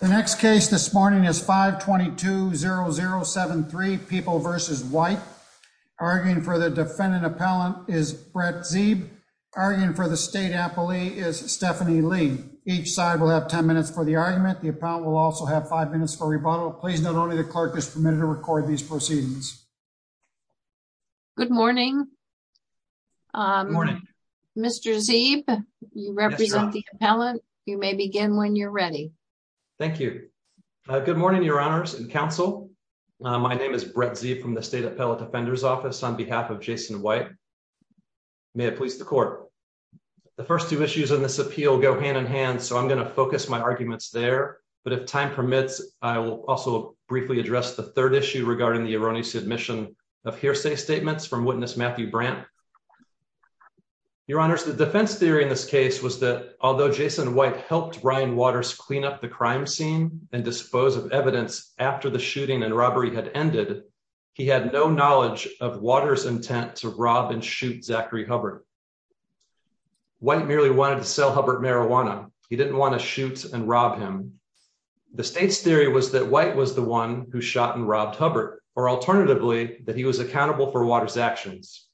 The next case this morning is 5220073 people versus white. Arguing for the defendant appellant is Brett Zeeb. Arguing for the state appellee is Stephanie Lee. Each side will have 10 minutes for the argument. The appellant will also have five minutes for rebuttal. Please. Not only the clerk is permitted to record these proceedings. Good morning. Morning, Mr. Zeeb. You represent the appellant. You may begin when you're ready. Thank you. Good morning, your honors and counsel. My name is Brett Zeeb from the state appellate defender's office on behalf of Jason White. May it please the court. The first two issues in this appeal go hand in hand. So I'm going to focus my arguments there. But if time permits, I will also briefly address the third issue regarding the erroneous admission of hearsay statements from witness Matthew Brandt. Your honors. The defense theory in this case was that although Jason White helped Brian Waters clean up the crime scene and dispose of evidence after the shooting and robbery had ended, he had no knowledge of water's intent to rob and shoot Zachary Hubbard. White merely wanted to sell Hubbard marijuana. He didn't want to shoot and rob him. The state's theory was that White was the one who shot and robbed Hubbard or alternatively that he was accountable for water's actions.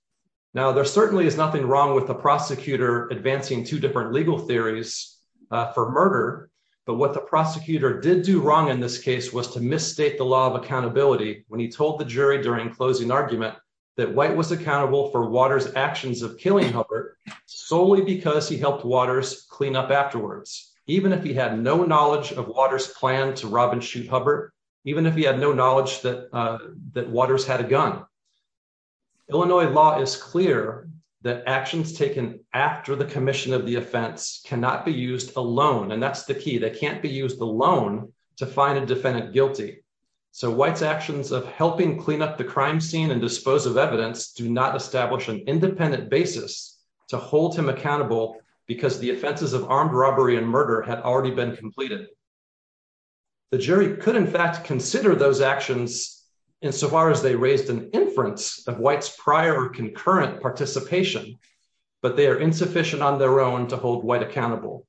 Now there certainly is nothing wrong with the prosecutor advancing two different legal theories for murder. But what the prosecutor did do wrong in this case was to misstate the law of accountability when he told the jury during closing argument that White was accountable for water's actions of killing Hubbard solely because he helped water's clean up afterwards. Even if he had no knowledge of water's plan to rob and shoot Hubbard, even if he had no knowledge that that water's had a gun. Illinois law is clear that actions taken after the commission of the offense cannot be used alone. And that's the key that can't be used alone to find a defendant guilty. So White's actions of helping clean up the crime scene and dispose of evidence do not establish an independent basis to hold him accountable because the offenses of armed robbery and murder had already been completed. The jury could in fact consider those actions insofar as they raised an inference of White's prior concurrent participation, but they are insufficient on their own to hold White accountable.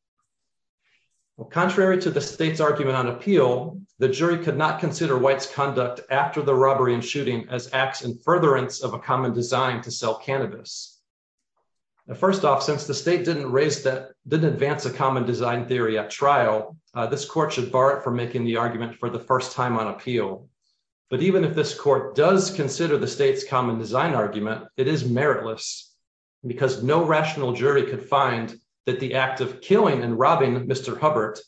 Contrary to the state's argument on appeal, the jury could not consider White's conduct after the robbery and shooting as acts in furtherance of a common design to sell cannabis. First off, since the state didn't raise that, didn't advance a common design theory at trial, this court should bar it from making the argument for the first time on appeal. But even if this court does consider the state's common design argument, it is meritless because no rational jury could find that the act of killing and robbing Mr. Hubbert,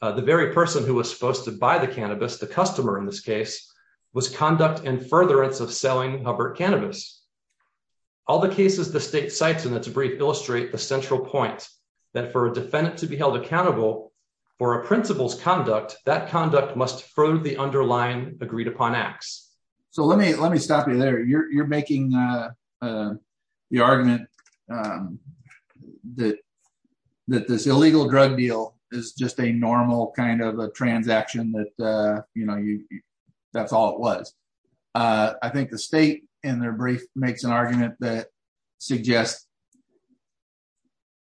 the very person who was supposed to buy the cannabis, the customer in this case, was conduct in furtherance of selling Hubbert cannabis. All the cases the state cites in its brief illustrate the central point that for a defendant to be held accountable for a principal's crime, the state should be held accountable for the underlying agreed upon acts. So let me stop you there. You're making the argument that this illegal drug deal is just a normal kind of a transaction that, you know, that's all it was. I think the state in their brief makes an argument that suggests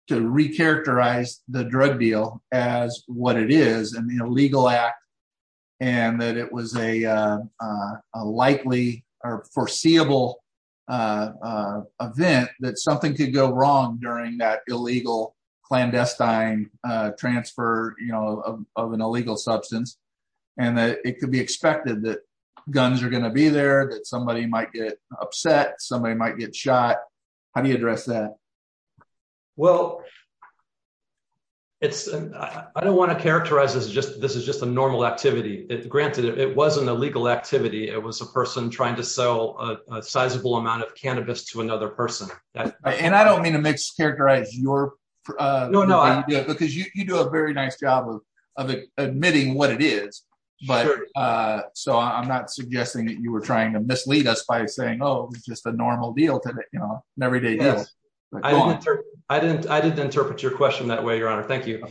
to recharacterize the drug deal as what it is, an illegal act, and that it was a likely or foreseeable event that something could go wrong during that illegal clandestine transfer, you know, of an illegal substance, and that it could be expected that guns are going to be there, that somebody might get upset, somebody might get shot. How do you address that? Well, it's, I don't want to characterize this as just, this is just a normal activity. Granted, it wasn't a legal activity. It was a person trying to sell a sizable amount of cannabis to another person. And I don't mean to mischaracterize your, because you do a very nice job of admitting what it is. But so I'm not suggesting that you were trying to mislead us by saying, Oh, it's just a normal deal today, you know, an everyday Yes. I didn't, I didn't, I didn't interpret your question that way, Your Honor. Thank you.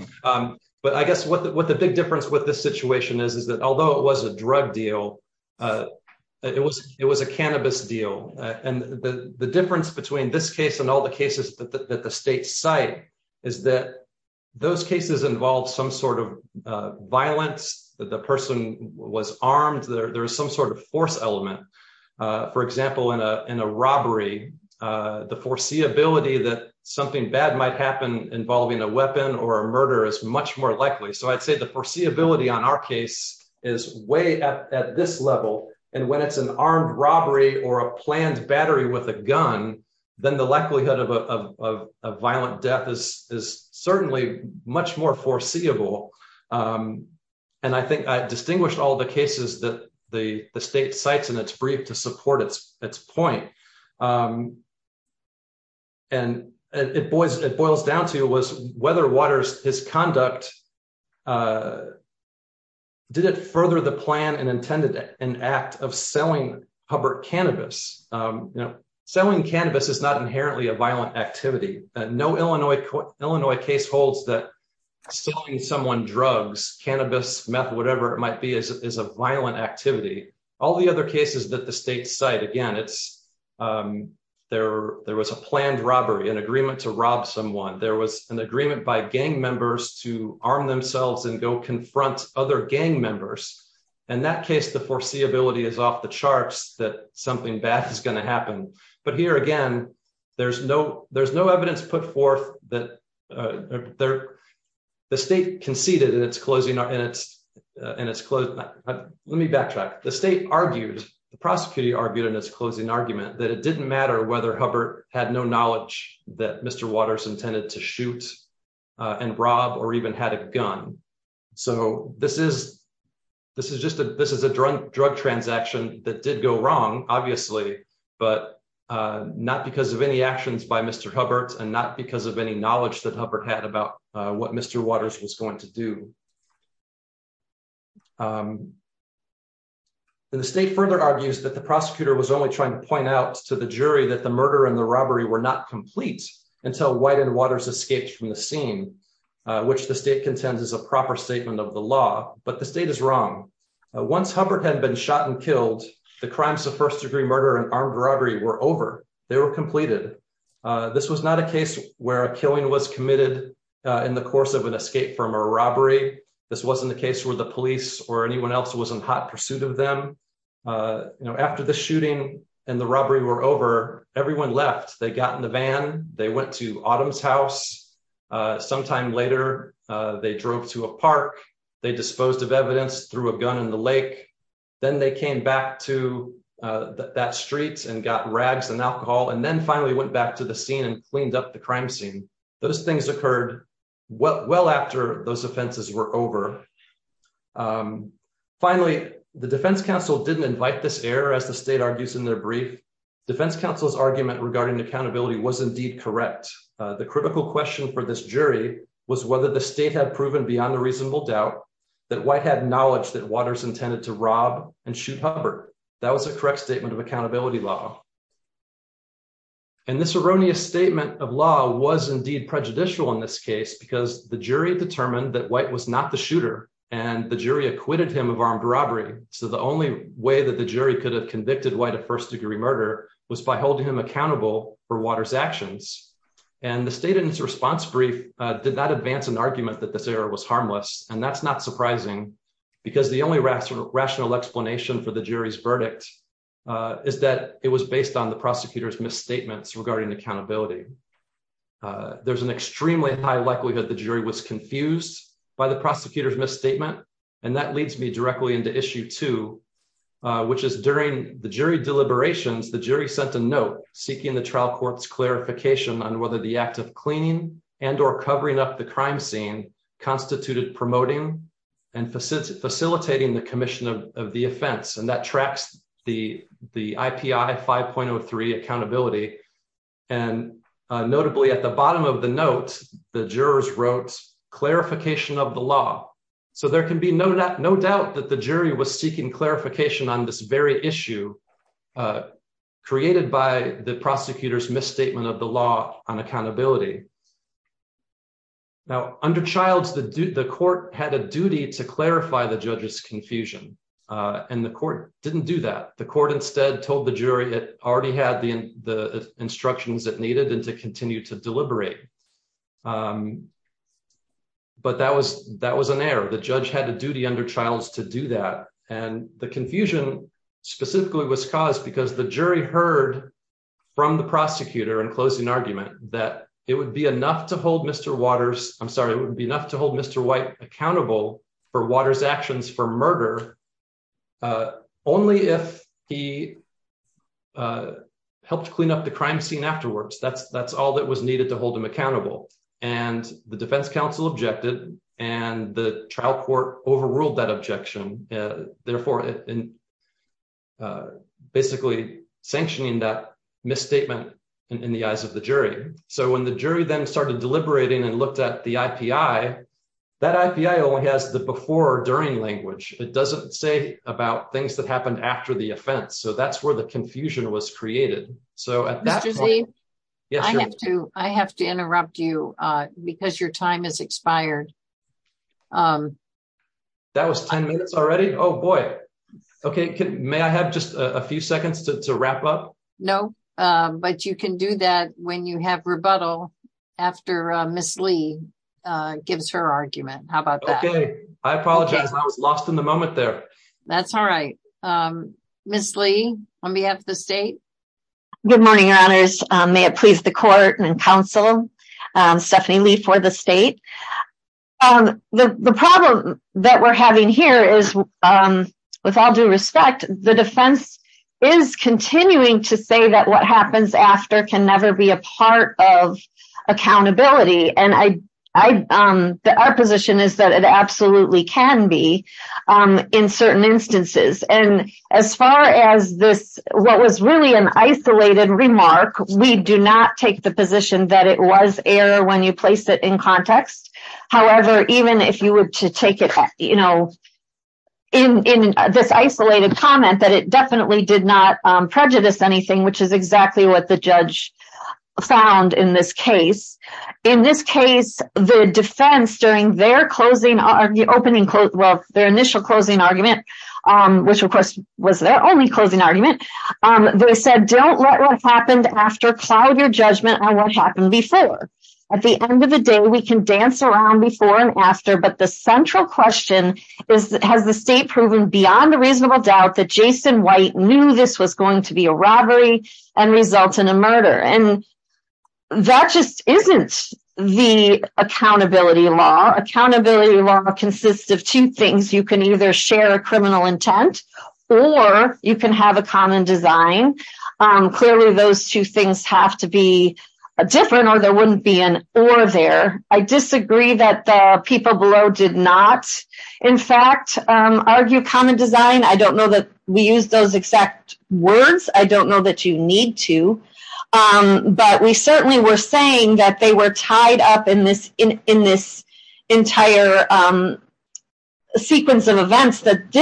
But I guess what the, what the big difference with this situation is, is that although it was a drug deal, it was, it was a cannabis deal. And the difference between this case and all the cases that the state cite is that those cases involve some sort of violence, that the person was armed, there, there was some sort of force element. For example, in a, in a foreseeability that something bad might happen involving a weapon or a murder is much more likely. So I'd say the foreseeability on our case is way up at this level. And when it's an armed robbery or a planned battery with a gun, then the likelihood of a violent death is certainly much more foreseeable. And I think I distinguished all the cases that the state cites in its brief to support its point. And it boils, it boils down to was whether Waters, his conduct, did it further the plan and intended an act of selling Hubbard cannabis. You know, selling cannabis is not inherently a violent activity. No Illinois, Illinois case holds that selling someone drugs, cannabis, meth, whatever it might be, is a state site. Again, it's there, there was a planned robbery, an agreement to rob someone, there was an agreement by gang members to arm themselves and go confront other gang members. And that case, the foreseeability is off the charts that something bad is going to happen. But here, again, there's no, there's no evidence put forth that they're, the state conceded and it's it's, and it's, let me backtrack, the state argued, the prosecutor argued in his closing argument that it didn't matter whether Hubbard had no knowledge that Mr. Waters intended to shoot and rob or even had a gun. So this is, this is just a this is a drug transaction that did go wrong, obviously, but not because of any actions by Mr. Hubbard, and not because of any knowledge that Hubbard had about what Mr. Waters was going to do. The state further argues that the prosecutor was only trying to point out to the jury that the murder and the robbery were not complete until White and Waters escaped from the scene, which the state contends is a proper statement of the law, but the state is wrong. Once Hubbard had been shot and killed, the crimes of first degree murder and armed robbery were over, they was not a case where a killing was committed in the course of an escape from a robbery. This wasn't the case where the police or anyone else was in hot pursuit of them. You know, after the shooting, and the robbery were over, everyone left, they got in the van, they went to Autumn's house. Sometime later, they drove to a park, they disposed of evidence through a gun in the lake. Then they came back to that street and got rags and alcohol and then finally went back to the scene and cleaned up the crime scene. Those things occurred well after those offenses were over. Finally, the defense counsel didn't invite this error as the state argues in their brief. Defense counsel's argument regarding accountability was indeed correct. The critical question for this jury was whether the state had proven beyond a reasonable doubt that White had knowledge that Waters intended to rob and shoot Hubbard. That was a correct statement of accountability law. And this erroneous statement of law was indeed prejudicial in this case, because the jury determined that White was not the shooter, and the jury acquitted him of armed robbery. So the only way that the jury could have convicted White of first degree murder was by holding him accountable for Waters actions. And the state in its response brief did not advance an argument that this error was harmless. And that's not surprising. Because the only rational rational explanation for the jury's verdict is that it was based on the prosecutor's misstatements regarding accountability. Uh, there's an extremely high likelihood the jury was confused by the prosecutor's misstatement. And that leads me directly into issue two, which is during the jury deliberations, the jury sent a note seeking the trial court's clarification on whether the act of cleaning and or covering up the crime scene constituted promoting and facilitating the commission of the 03 accountability. And notably, at the bottom of the note, the jurors wrote clarification of the law. So there could be no, no doubt that the jury was seeking clarification on this very issue, uh, created by the prosecutor's misstatement of the law on accountability. Now, under child's, the court had a duty to clarify the judge's confusion, and the court didn't do that. The court instead told the jury it already had the instructions that needed and to continue to deliberate. Um, but that was that was an error. The judge had a duty under child's to do that. And the confusion specifically was caused because the jury heard from the prosecutor and closing argument that it would be enough to hold Mr Waters. I'm sorry. It would be enough to hold Mr White accountable for Waters actions for murder. Uh, only if he, uh, helped clean up the crime scene afterwards. That's that's all that was needed to hold him accountable. And the defense counsel objected, and the trial court overruled that objection, therefore, uh, basically sanctioning that misstatement in the eyes of the jury. So when the jury then started deliberating and looked at the I. P. I. That I. P. I. Only has the before during language. It doesn't say about things that happened after the offense. So that's where the confusion was created. So at that age, I have to interrupt you because your time is expired. Um, that was 10 minutes already. Oh, boy. Okay. May I have just a few seconds to wrap up? No, but you can do that when you have rebuttal after Miss Lee gives her argument. How about that? Okay, I apologize. I was lost in the moment there. That's all right. Um, Miss Lee on behalf of the state. Good morning, your honors. May it please the court and counsel Stephanie Lee for the state. Um, the problem that we're having here is, um, with all due respect, the defense is continuing to say that what of accountability and I, um, our position is that it absolutely can be, um, in certain instances. And as far as this, what was really an isolated remark, we do not take the position that it was air when you place it in context. However, even if you were to take it, you know, in this isolated comment that it definitely did not prejudice anything, which is exactly what the judge found in this case. In this case, the defense during their closing on the opening quote, well, their initial closing argument, which, of course, was their only closing argument. They said, don't let what happened after cloud your judgment on what happened before. At the end of the day, we can dance around before and after. But the central question is, has the state proven beyond a reasonable doubt that Jason White knew this was a murder? And that just isn't the accountability law. Accountability law consists of two things. You can either share a criminal intent, or you can have a common design. Clearly, those two things have to be a different or there wouldn't be an order there. I disagree that the people below did not, in fact, argue common design. I don't know that we use those exact words. I don't know. But we certainly were saying that they were tied up in this entire sequence of events that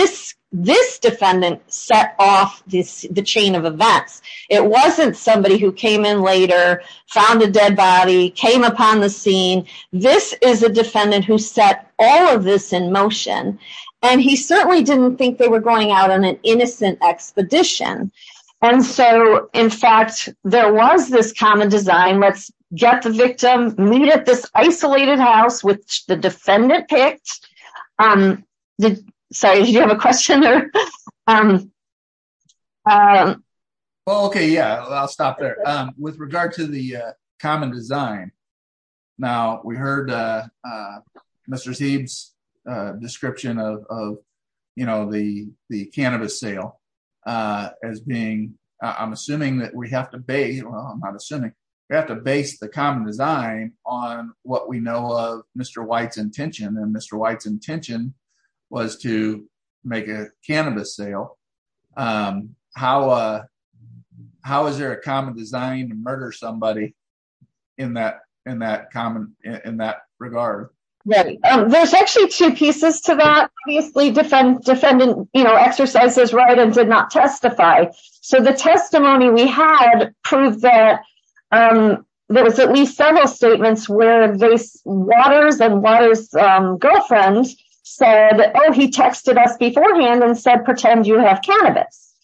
this defendant set off the chain of events. It wasn't somebody who came in later, found a dead body, came upon the scene. This is a defendant who set all of this in motion. And he certainly didn't think they were going out on an innocent expedition. And so, in fact, there was this common design. Let's get the victim, meet at this isolated house, which the defendant picked. So you have a question? Okay, yeah, I'll stop there. With regard to the common design. Now, we heard Mr. Seeb's description of, you know, the cannabis sale as being, I'm assuming that we have to base, well, I'm not assuming, we have to base the common design on what we know of Mr. White's intention. And Mr. White's intention was to make a cannabis sale. How is there a common design to murder somebody in that regard? Right. There's actually two pieces to that. Obviously, defendant, you know, exercises right and did not testify. So the testimony we had proved that there was at least several statements where Waters and Waters' girlfriend said, oh, he texted us beforehand and said, pretend you have cannabis.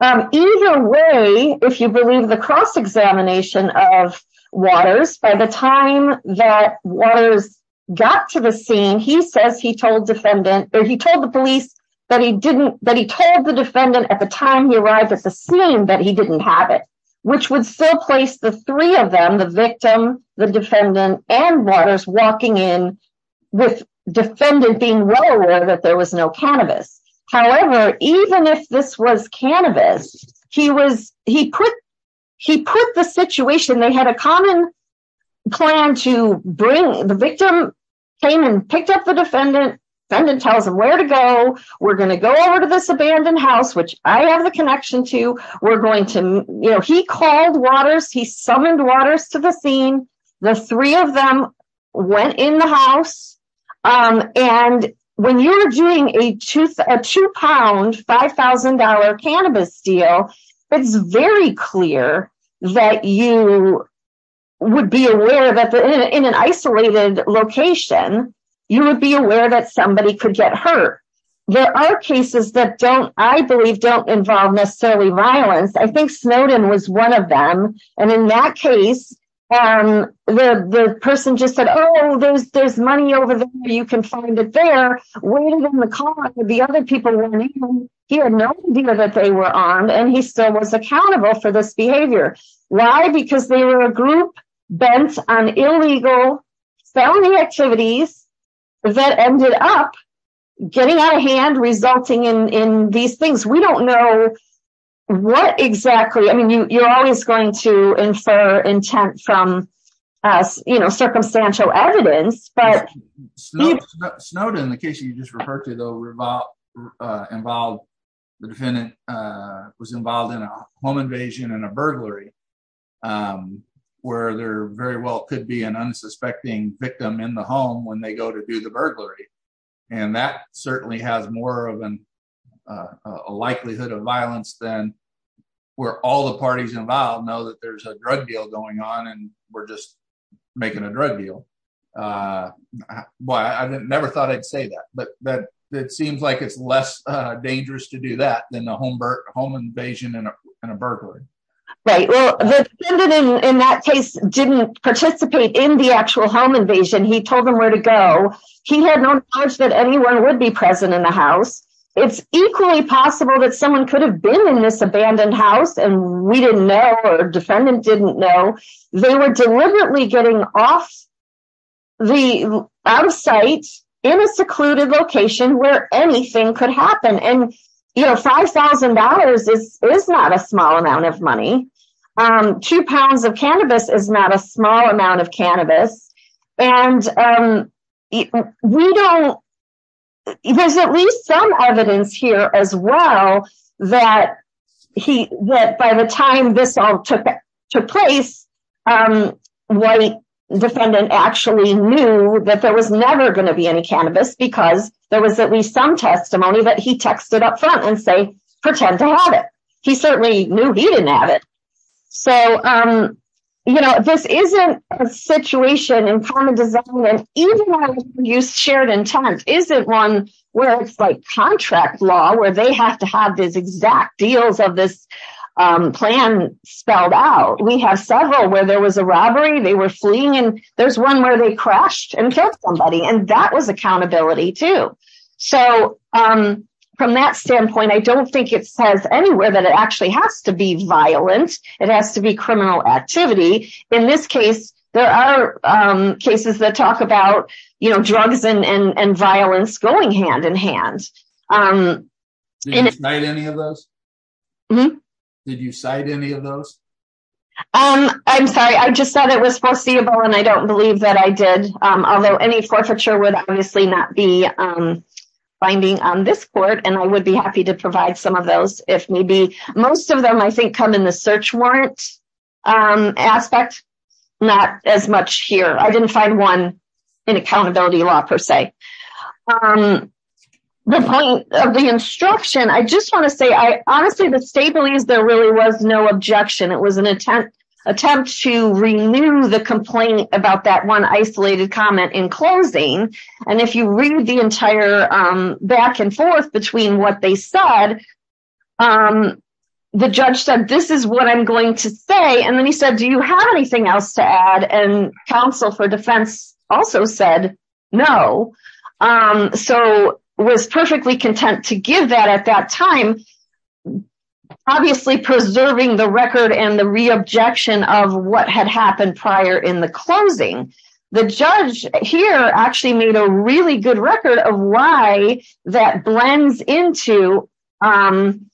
Either way, if you believe the cross-examination of Waters, by the time that Waters got to the scene, he says he told defendant or he told the police that he didn't, that he told the defendant at the time he arrived at the scene that he didn't have it, which would still place the three of them, the victim, the defendant and Waters walking in with defendant being well aware that there was no cannabis. However, even if this was cannabis, he was, he put, he put the situation, they had a common plan to bring, the victim came and picked up the defendant, defendant tells him where to go, we're going to go over to this abandoned house, which I have the connection to, we're going to, you know, he called Waters, he summoned Waters to the scene, the three of them went in the house. And when you're doing a two pound, $5,000 cannabis deal, it's very clear that you would be aware that in an isolated location, you would be aware that somebody could get hurt. There are cases that don't, I believe, don't involve necessarily violence. I think Snowden was one of them. And in that case, the person just said, Oh, there's there's money over there, you can find it there, waiting in the car with the other people. He had no idea that they were and he still was accountable for this behavior. Why? Because they were a group bent on illegal felony activities that ended up getting out of hand resulting in these things. We don't know what exactly I mean, you're always going to infer intent from us, you know, circumstantial evidence. Snowden, the case you just referred to the revolve involved, the defendant was involved in a home invasion and a burglary, where they're very well could be an unsuspecting victim in the home when they go to do the burglary. And that certainly has more of an likelihood of violence than where all the parties involved know that there's a drug deal going on, and we're just making a drug deal. Why I never thought I'd say that, but that it seems like it's less dangerous to do that than the home home invasion and a burglary. Right? Well, the defendant in that case didn't participate in the actual home invasion. He told them where to go. He had no knowledge that anyone would be present in the house. It's equally possible that someone could have been in this abandoned house and we didn't know or defendant didn't know they were getting off the out of sight in a secluded location where anything could happen and, you know, $5,000 is not a small amount of money. Two pounds of cannabis is not a small amount of cannabis. And we don't, there's at least some evidence here as well that by the time this all took place, the defendant actually knew that there was never going to be any cannabis because there was at least some testimony that he texted up front and say, pretend to have it. He certainly knew he didn't have it. So, you know, this isn't a situation in contract law where they have to have this exact deals of this plan spelled out. We have several where there was a robbery, they were fleeing and there's one where they crashed and killed somebody. And that was accountability too. So from that standpoint, I don't think it says anywhere that it actually has to be violent. It has to be criminal activity. In this case, there are cases that talk about, you know, drugs and violence going hand in hand. Did you cite any of those? I'm sorry. I just said it was foreseeable and I don't believe that I did. Although any forfeiture would obviously not be binding on this court. And I would be happy to provide some of those if maybe most of them I think come in the search warrant aspect, not as much here. I didn't find one in accountability law per se. The point of the instruction, I just want to say I honestly the state believes there really was no objection. It was an attempt attempt to renew the complaint about that one isolated comment in closing. And if you read the entire back and forth between what they said, the judge said, this is what I'm going to say. And then he said, do you have anything else to add? And counsel for defense also said no. So was perfectly content to give that at that time. Obviously preserving the record and the reobjection of what had happened prior in the closing. The judge here actually made a really good record of why that blends into an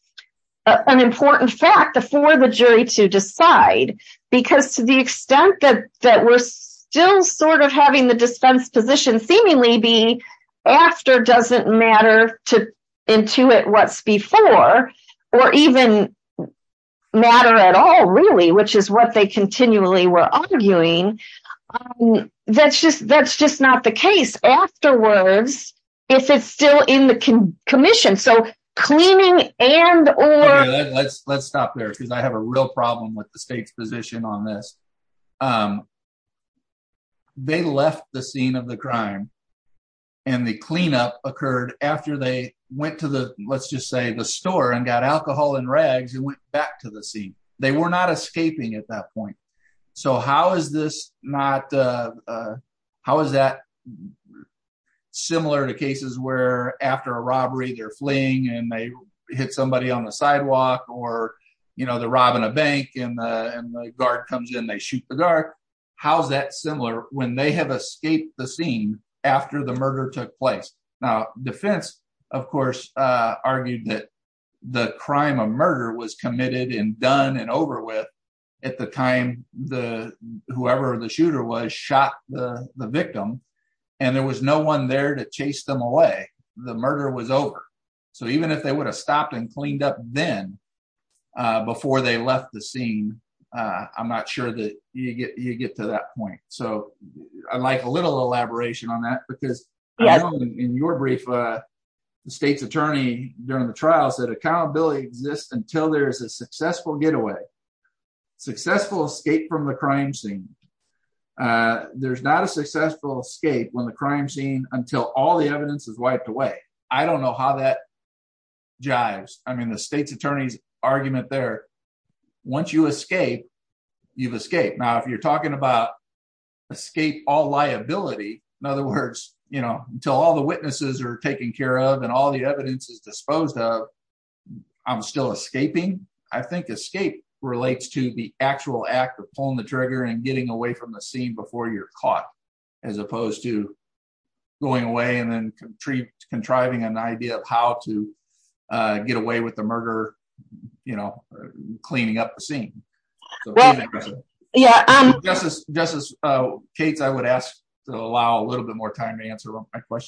important fact before the jury to decide. Because to the extent that we're still sort of having the dispensed position seemingly be after doesn't matter to intuit what's before or even matter at all really, which is what they continually were arguing. That's just that's just not the case. Afterwards, if it's still in the commission, so cleaning and or let's let's stop there because I have a real problem with the state's position on this. They left the scene of the crime. And the cleanup occurred after they went to the let's just say the store and got alcohol and rags and went back to the scene. They were not escaping at that So how is this not? How is that similar to cases where after a robbery, they're fleeing and they hit somebody on the sidewalk or, you know, the robbing a bank and the guard comes in, they shoot the guard. How's that similar when they have escaped the scene after the murder took place? Now, defense, of course, argued that the crime of murder was committed and done and over with. At the time, the whoever the shooter was shot the victim, and there was no one there to chase them away. The murder was over. So even if they would have stopped and cleaned up then, before they left the scene, I'm not sure that you get you get to that point. So I like a little elaboration on that, because in your brief, the state's trials that accountability exists until there's a successful getaway, successful escape from the crime scene. There's not a successful escape when the crime scene until all the evidence is wiped away. I don't know how that jives. I mean, the state's attorney's argument there. Once you escape, you've escaped. Now, if you're talking about escape all liability, in other words, you know, until all the I'm still escaping. I think escape relates to the actual act of pulling the trigger and getting away from the scene before you're caught, as opposed to going away and then contriving an idea of how to get away with the murder, you know, cleaning up the scene. Yeah, I'm just as just as Kate's, I would ask to allow a little bit more time to answer my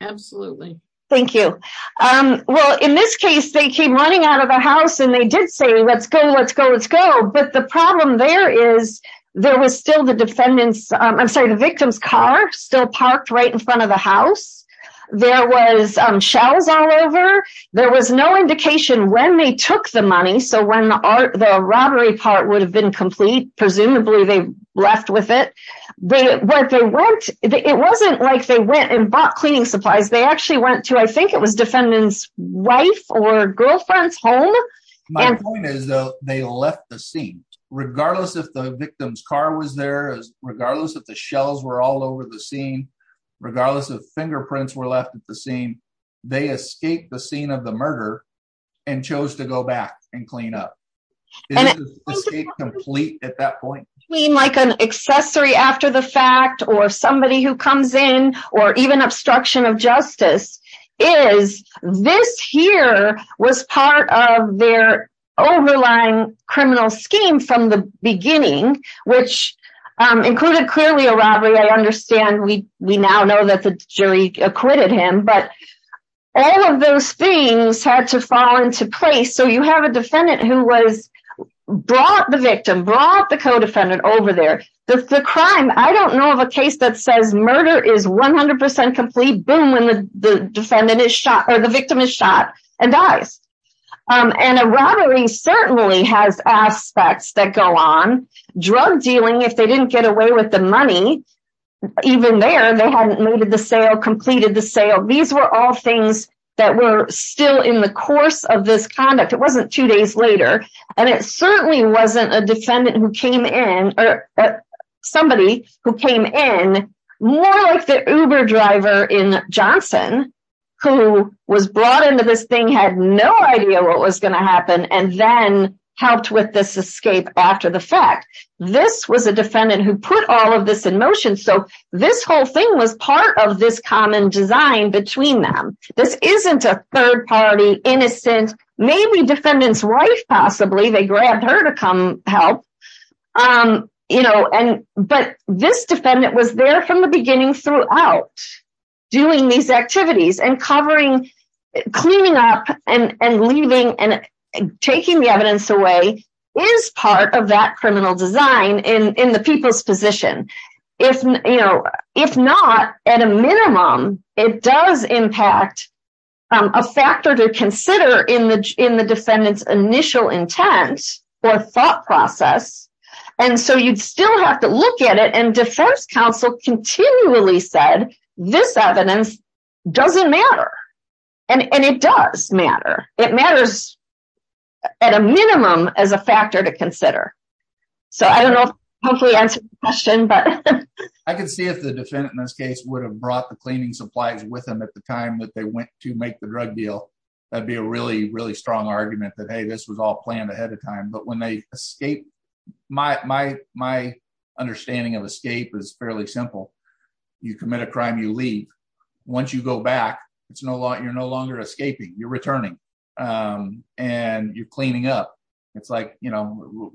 Absolutely. Thank you. Well, in this case, they came running out of the house and they did say, let's go, let's go, let's go. But the problem there is, there was still the defendants, I'm sorry, the victim's car still parked right in front of the house. There was shells all over, there was no indication when they took the money. So when the art, the robbery part would have been complete, presumably they left with it. But what they want, it wasn't like they went and bought cleaning supplies, they actually went to I think it was defendant's wife or girlfriend's home. My point is, though, they left the scene, regardless of the victim's car was there, regardless of the shells were all over the scene, regardless of fingerprints were left at the scene, they escaped the scene of the murder, and chose to go back and clean up. Complete at that point, like an accessory after the fact, or somebody who comes in, or even obstruction of justice, is this here was part of their overlying criminal scheme from the beginning, which included clearly a robbery. I understand we we now know that the jury acquitted him, but all of those things had to fall into place. So you have a defendant who was brought the victim brought the co defendant over there. The crime I don't know of a case that says murder is 100% complete boom when the defendant is shot or the victim is shot and dies. And a robbery certainly has aspects that go on drug dealing if they didn't get away with the money. Even there, they hadn't made the sale completed the sale. These were all things that were still in the course of this conduct. It wasn't two days later. And it certainly wasn't a defendant who came in or somebody who came in more like the Uber driver in Johnson, who was brought into this thing had no idea what was going to happen and then helped with this escape after the fact. This was a defendant who put all of this in motion. So this whole thing was part of this common design between them. This isn't a third party innocent, maybe defendants wife, possibly they grabbed her to come help. You know, and but this defendant was there from the beginning throughout doing these activities and covering, cleaning up and leaving and taking the evidence away is part of that criminal design in the people's position. If you know, if not, at a minimum, it does impact a factor to consider in the in the defendant's initial intent or thought process. And so you'd still have to look at it and defense counsel continually said, this evidence doesn't matter. And it does matter. It matters at a minimum as a factor to consider. So I don't know, hopefully answer the question. But I can see if the defendant in this case would have brought the cleaning supplies with them at the time that they went to make the drug deal. That'd be a really, really strong argument that, hey, this was all planned ahead of time. But when they escape, my, my, my understanding of escape is fairly simple. You commit a crime, you leave. Once you go back, it's no longer you're no longer escaping, you're returning. And you're cleaning up. It's like, you know,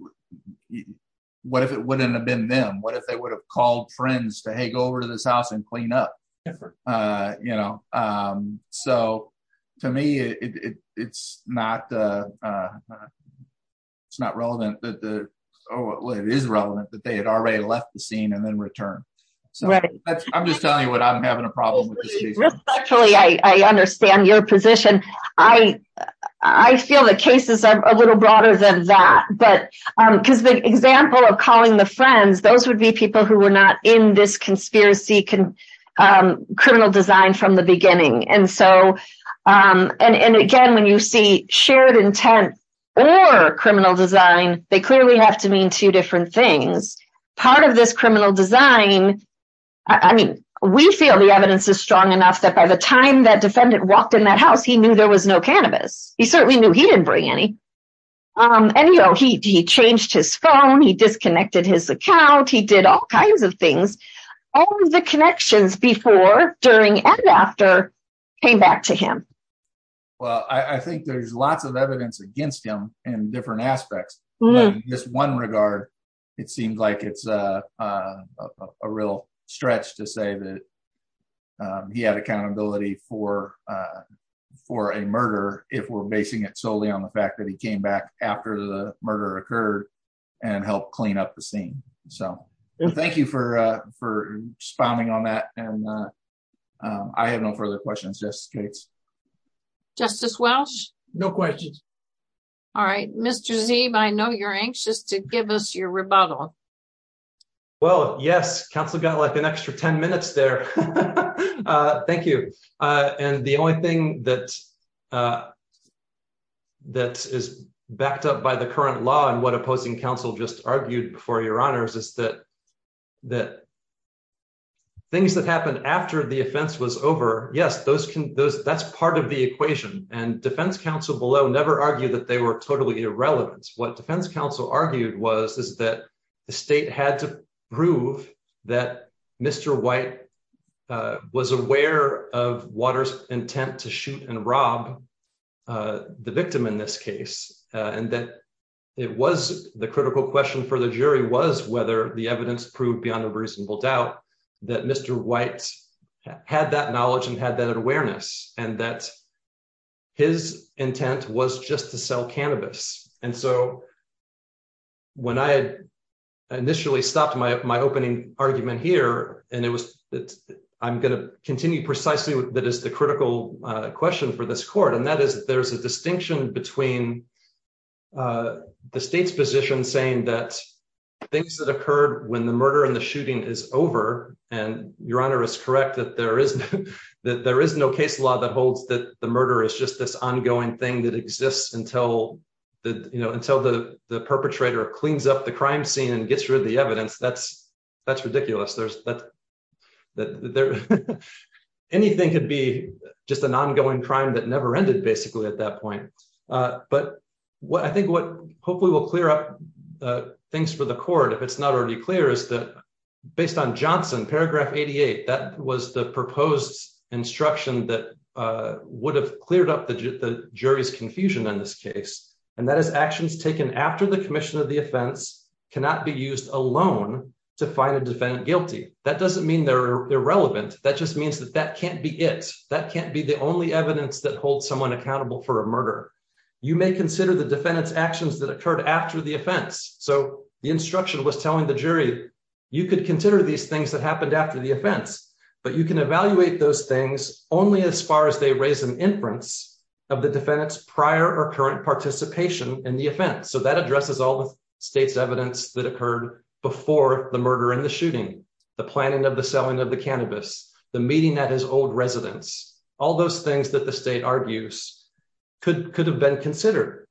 what if it wouldn't have been them? What if they would have called friends to go over to this house and clean up? You know, so, to me, it's not, it's not relevant that the is relevant that they had already left the scene and then returned. So I'm just telling you what I'm having a problem with. Actually, I understand your position. I, I feel the cases are a little broader than that. But because the example of calling the friends, those would be people who were not in this conspiracy, criminal design from the beginning. And so, and again, when you see shared intent, or criminal design, they clearly have to mean two different things. Part of this criminal design, I mean, we feel the evidence is strong enough that by the time that defendant walked in that house, he knew there was no cannabis. He certainly knew he didn't bring any. Um, and you know, he changed his phone, he disconnected his account, he did all kinds of things. All the connections before, during and after came back to him. Well, I think there's lots of evidence against him in different aspects. Just one regard, it seems like it's a real stretch to say that he had accountability for, for a murder, if we're basing it solely on the fact that he came back after the murder occurred, and helped clean up the scene. So thank you for, for responding on that. And I have no further questions. Justice Gates. Justice Welch? No questions. All right, Mr. Zeeb, I know you're anxious to give us your rebuttal. Well, yes, counsel got like an extra 10 minutes there. Thank you. And the only thing that uh, that is backed up by the current law and what opposing counsel just argued before your honors is that, that things that happened after the offense was over, yes, those can, those, that's part of the equation. And defense counsel below never argued that they were totally irrelevant. What defense counsel argued was, is that the state had to prove that Mr. White was aware of Waters' intent to shoot and rob the victim in this case, and that it was, the critical question for the jury was whether the evidence proved beyond a reasonable doubt that Mr. White had that knowledge and had that awareness, and that his intent was just to sell cannabis. And so when I had initially stopped my, my opening argument here, and it was that I'm going to continue precisely that is the critical question for this court. And that is that there's a distinction between the state's position saying that things that occurred when the murder and the shooting is over, and your honor is correct that there is, that there is no case law that holds that the murder is just this ongoing thing that exists until the, you know, until the, the perpetrator cleans up the crime scene and gets rid of the evidence. That's, that's ridiculous. There's, that there, anything could be just an ongoing crime that never ended basically at that point. But what I think what hopefully will clear up things for the court, if it's not already clear, is that based on Johnson, paragraph 88, that was the proposed instruction that would have cleared up the jury's confusion in this case. And that is actions taken after the commission of the offense cannot be used alone to find a defendant guilty. That doesn't mean they're irrelevant. That just means that that can't be it. That can't be the only evidence that holds someone accountable for a murder. You may consider the defendant's actions that occurred after the offense. So the instruction was telling the jury, you could consider these things that happened after the offense, but you can evaluate those things only as far as they raise an inference of the defendant's current participation in the offense. So that addresses all the state's evidence that occurred before the murder and the shooting, the planning of the selling of the cannabis, the meeting at his old residence, all those things that the state argues could, could have been considered.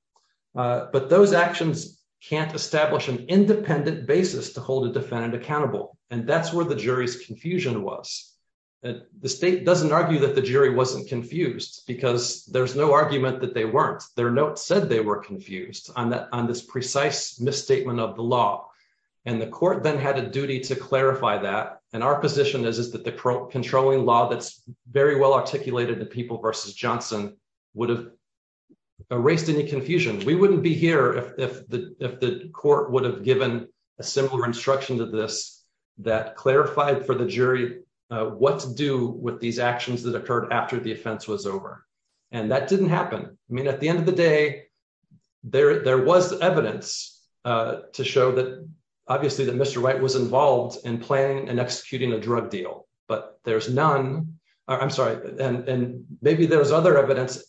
But those actions can't establish an independent basis to hold a defendant accountable. And that's where the jury's confusion was. The state doesn't argue that the jury wasn't confused because there's no argument that they weren't. Their notes said they were confused on that, on this precise misstatement of the law. And the court then had a duty to clarify that. And our position is, is that the controlling law that's very well articulated to people versus Johnson would have erased any confusion. We wouldn't be here if, if the, if the court would have given a similar instruction to this that clarified for the jury what to do with these And that didn't happen. I mean, at the end of the day, there, there was evidence to show that obviously that Mr. White was involved in planning and executing a drug deal, but there's none. I'm sorry. And maybe there's other evidence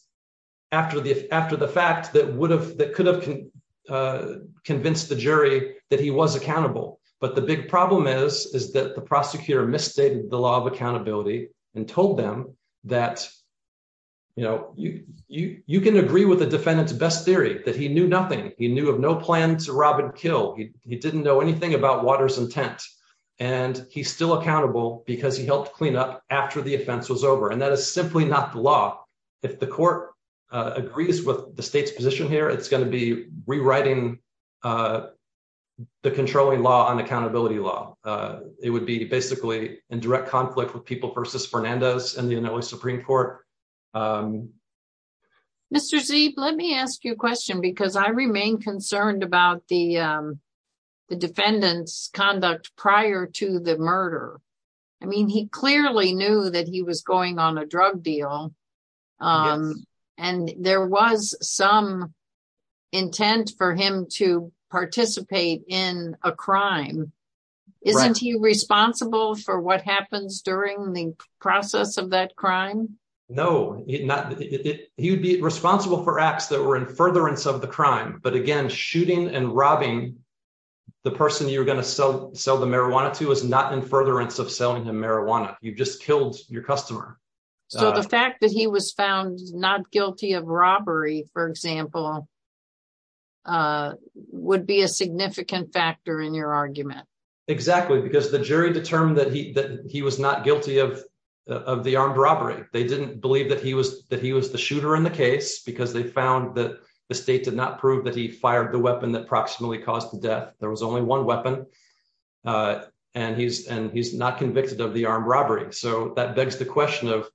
after the, after the fact that would have, that could have convinced the jury that he was accountable. But the big problem is, is that the prosecutor misstated the law of accountability and told them that, you know, you, you, you can agree with the defendant's best theory that he knew nothing. He knew of no plan to rob and kill. He didn't know anything about water's intent and he's still accountable because he helped clean up after the offense was over. And that is simply not the law. If the court agrees with the state's position here, it's going to be it would be basically in direct conflict with people versus Fernandez and the Supreme court. Mr. Zeib, let me ask you a question because I remain concerned about the, the defendant's conduct prior to the murder. I mean, he clearly knew that he was going on a drug deal. And there was some intent for him to participate in a crime. Isn't he responsible for what happens during the process of that crime? No, not, he would be responsible for acts that were in furtherance of the crime, but again, shooting and robbing the person you were going to sell, sell the marijuana to is not in furtherance of selling him marijuana. You've just your customer. So the fact that he was found not guilty of robbery, for example, would be a significant factor in your argument. Exactly. Because the jury determined that he, that he was not guilty of, of the armed robbery. They didn't believe that he was, that he was the shooter in the case because they found that the state did not prove that he fired the weapon that proximately caused the death. There was only one weapon and he's, and he's not convicted of the robbery. So that begs the question of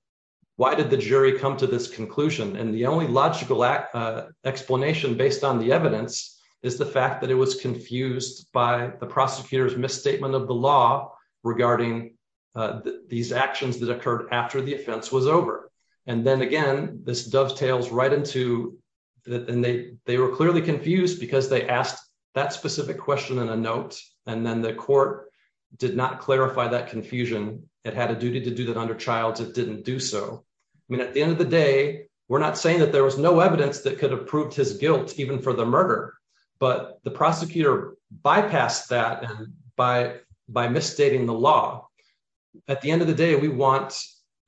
why did the jury come to this conclusion? And the only logical explanation based on the evidence is the fact that it was confused by the prosecutor's misstatement of the law regarding these actions that occurred after the offense was over. And then again, this dovetails right into that. And they, they were clearly confused because they that specific question in a note, and then the court did not clarify that confusion. It had a duty to do that under childs. It didn't do so. I mean, at the end of the day, we're not saying that there was no evidence that could have proved his guilt even for the murder, but the prosecutor bypassed that by, by misstating the law. At the end of the day, we want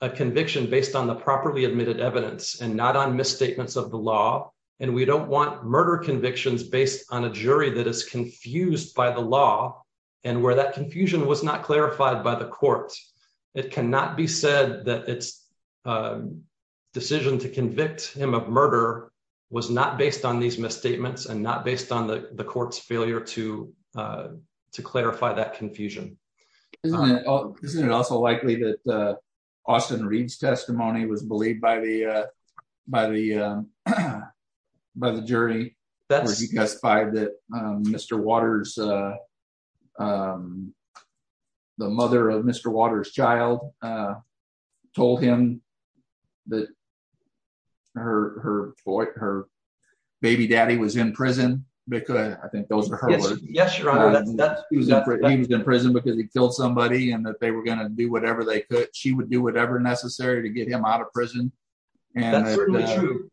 a conviction based on the properly admitted evidence and not on misstatements of the law. And we don't want murder convictions based on a jury that is confused by the law. And where that confusion was not clarified by the court, it cannot be said that it's a decision to convict him of murder was not based on these misstatements and not based on the court's failure to, to clarify that confusion. Isn't it also likely that the Austin testimony was believed by the, uh, by the, uh, by the jury that he testified that, um, Mr. Waters, um, the mother of Mr. Waters child, uh, told him that her, her boy, her baby daddy was in prison because I think those are her words. He was in prison because he killed somebody and that they were going to do whatever they could. She would do whatever necessary to get him out of prison. Yeah. The,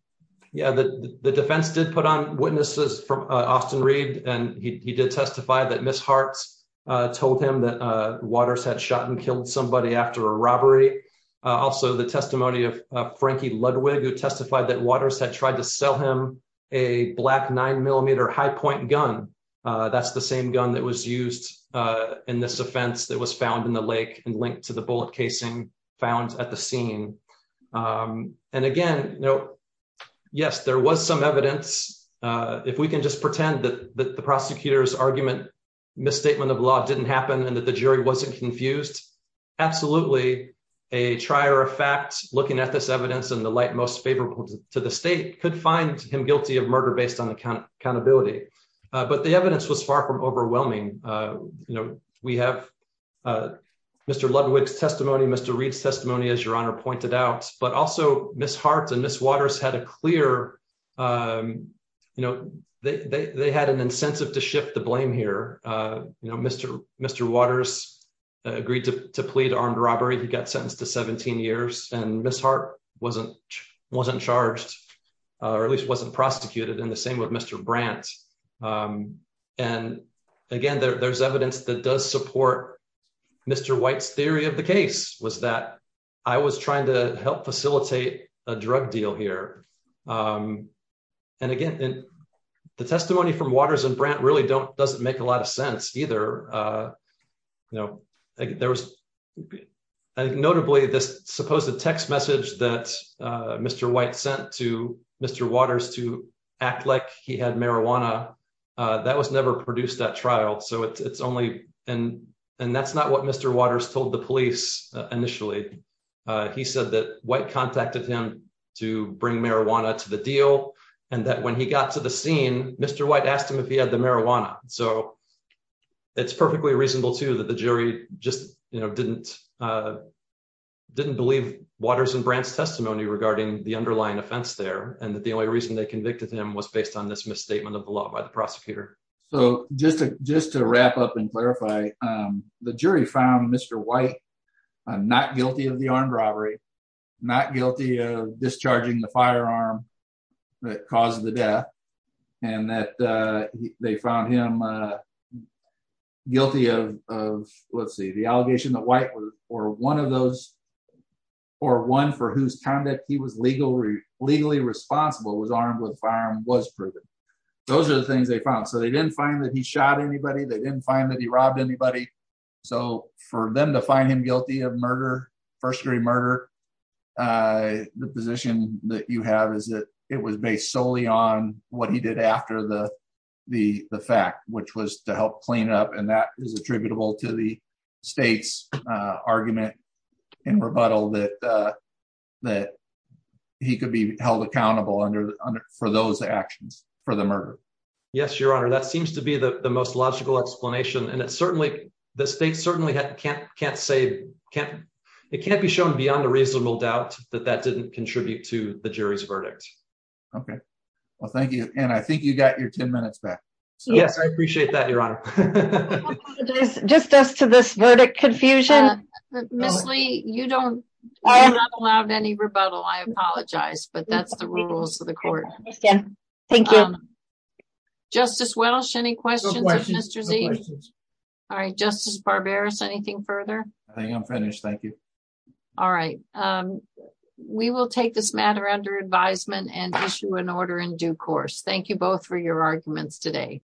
the defense did put on witnesses from Austin Reed and he did testify that Ms. Hearts, uh, told him that, uh, Waters had shot and killed somebody after a robbery. Also the testimony of Frankie Ludwig, who testified that Waters had tried to sell him a black nine millimeter high point gun. Uh, that's the same gun that was used, uh, in this offense that was found in the lake and linked to the bullet casing found at the scene. Um, and again, you know, yes, there was some evidence, uh, if we can just pretend that, that the prosecutor's argument misstatement of law didn't happen and that the jury wasn't confused. Absolutely. A trier of fact, looking at this evidence and the light most favorable to the state could find him guilty of murder based on accountability. Uh, but the evidence was overwhelming. Uh, you know, we have, uh, Mr. Ludwig's testimony, Mr. Reed's testimony, as your honor pointed out, but also Ms. Hearts and Ms. Waters had a clear, um, you know, they, they had an incentive to shift the blame here. Uh, you know, Mr. Mr. Waters agreed to plead armed robbery. He got sentenced to 17 years and Ms. Heart wasn't, wasn't charged or at least wasn't prosecuted in the same with Mr. Brandt. Um, and again, there there's evidence that does support Mr. White's theory of the case was that I was trying to help facilitate a drug deal here. Um, and again, the testimony from Waters and Brandt really don't, doesn't make a lot of sense either. Uh, you know, there was notably this supposed text message that, uh, Mr. White sent to Mr. Waters to act like he had marijuana, uh, that was never produced that trial. So it's, it's only, and, and that's not what Mr. Waters told the police initially. Uh, he said that White contacted him to bring marijuana to the deal and that when he got to the scene, Mr. White asked him if he had the marijuana. So it's perfectly reasonable too, that the jury just, you know, didn't, uh, didn't believe Waters and Brandt's testimony regarding the underlying offense there. And that the only reason they convicted him was based on this misstatement of the law by the prosecutor. So just to, just to wrap up and clarify, um, the jury found Mr. White, uh, not guilty of the armed robbery, not guilty of discharging the firearm that caused the death and that, uh, they found him, uh, guilty of, of let's see, the allegation that White was, or one of those, or one for whose conduct he was legally, legally responsible was armed with a firearm was proven. Those are the things they found. So they didn't find that he shot anybody. They didn't find that he robbed anybody. So for them to find him guilty of murder, first degree murder, uh, the position that you have is that it was based solely on what he did after the, the, the fact, which was to help clean up. And that is attributable to the state's, uh, argument and rebuttal that, uh, that he could be held accountable under, under, for those actions for the murder. Yes, your honor. That seems to be the most logical explanation. And it's certainly the state certainly can't, can't say, can't, it can't be shown beyond a reasonable doubt that that didn't contribute to the jury's verdict. Okay. Well, thank you. And I think you got your 10 minutes back. Yes. I appreciate that. Your honor. Just as to this verdict confusion, Ms. Lee, you don't, you're not allowed any rebuttal. I apologize, but that's the rules of the court. Thank you. Justice Welsh, any questions? All right. Justice Barberis, anything further? I think I'm finished. Thank you. All right. Um, we will take this matter under advisement and issue an order in due course. Thank you both for your arguments today.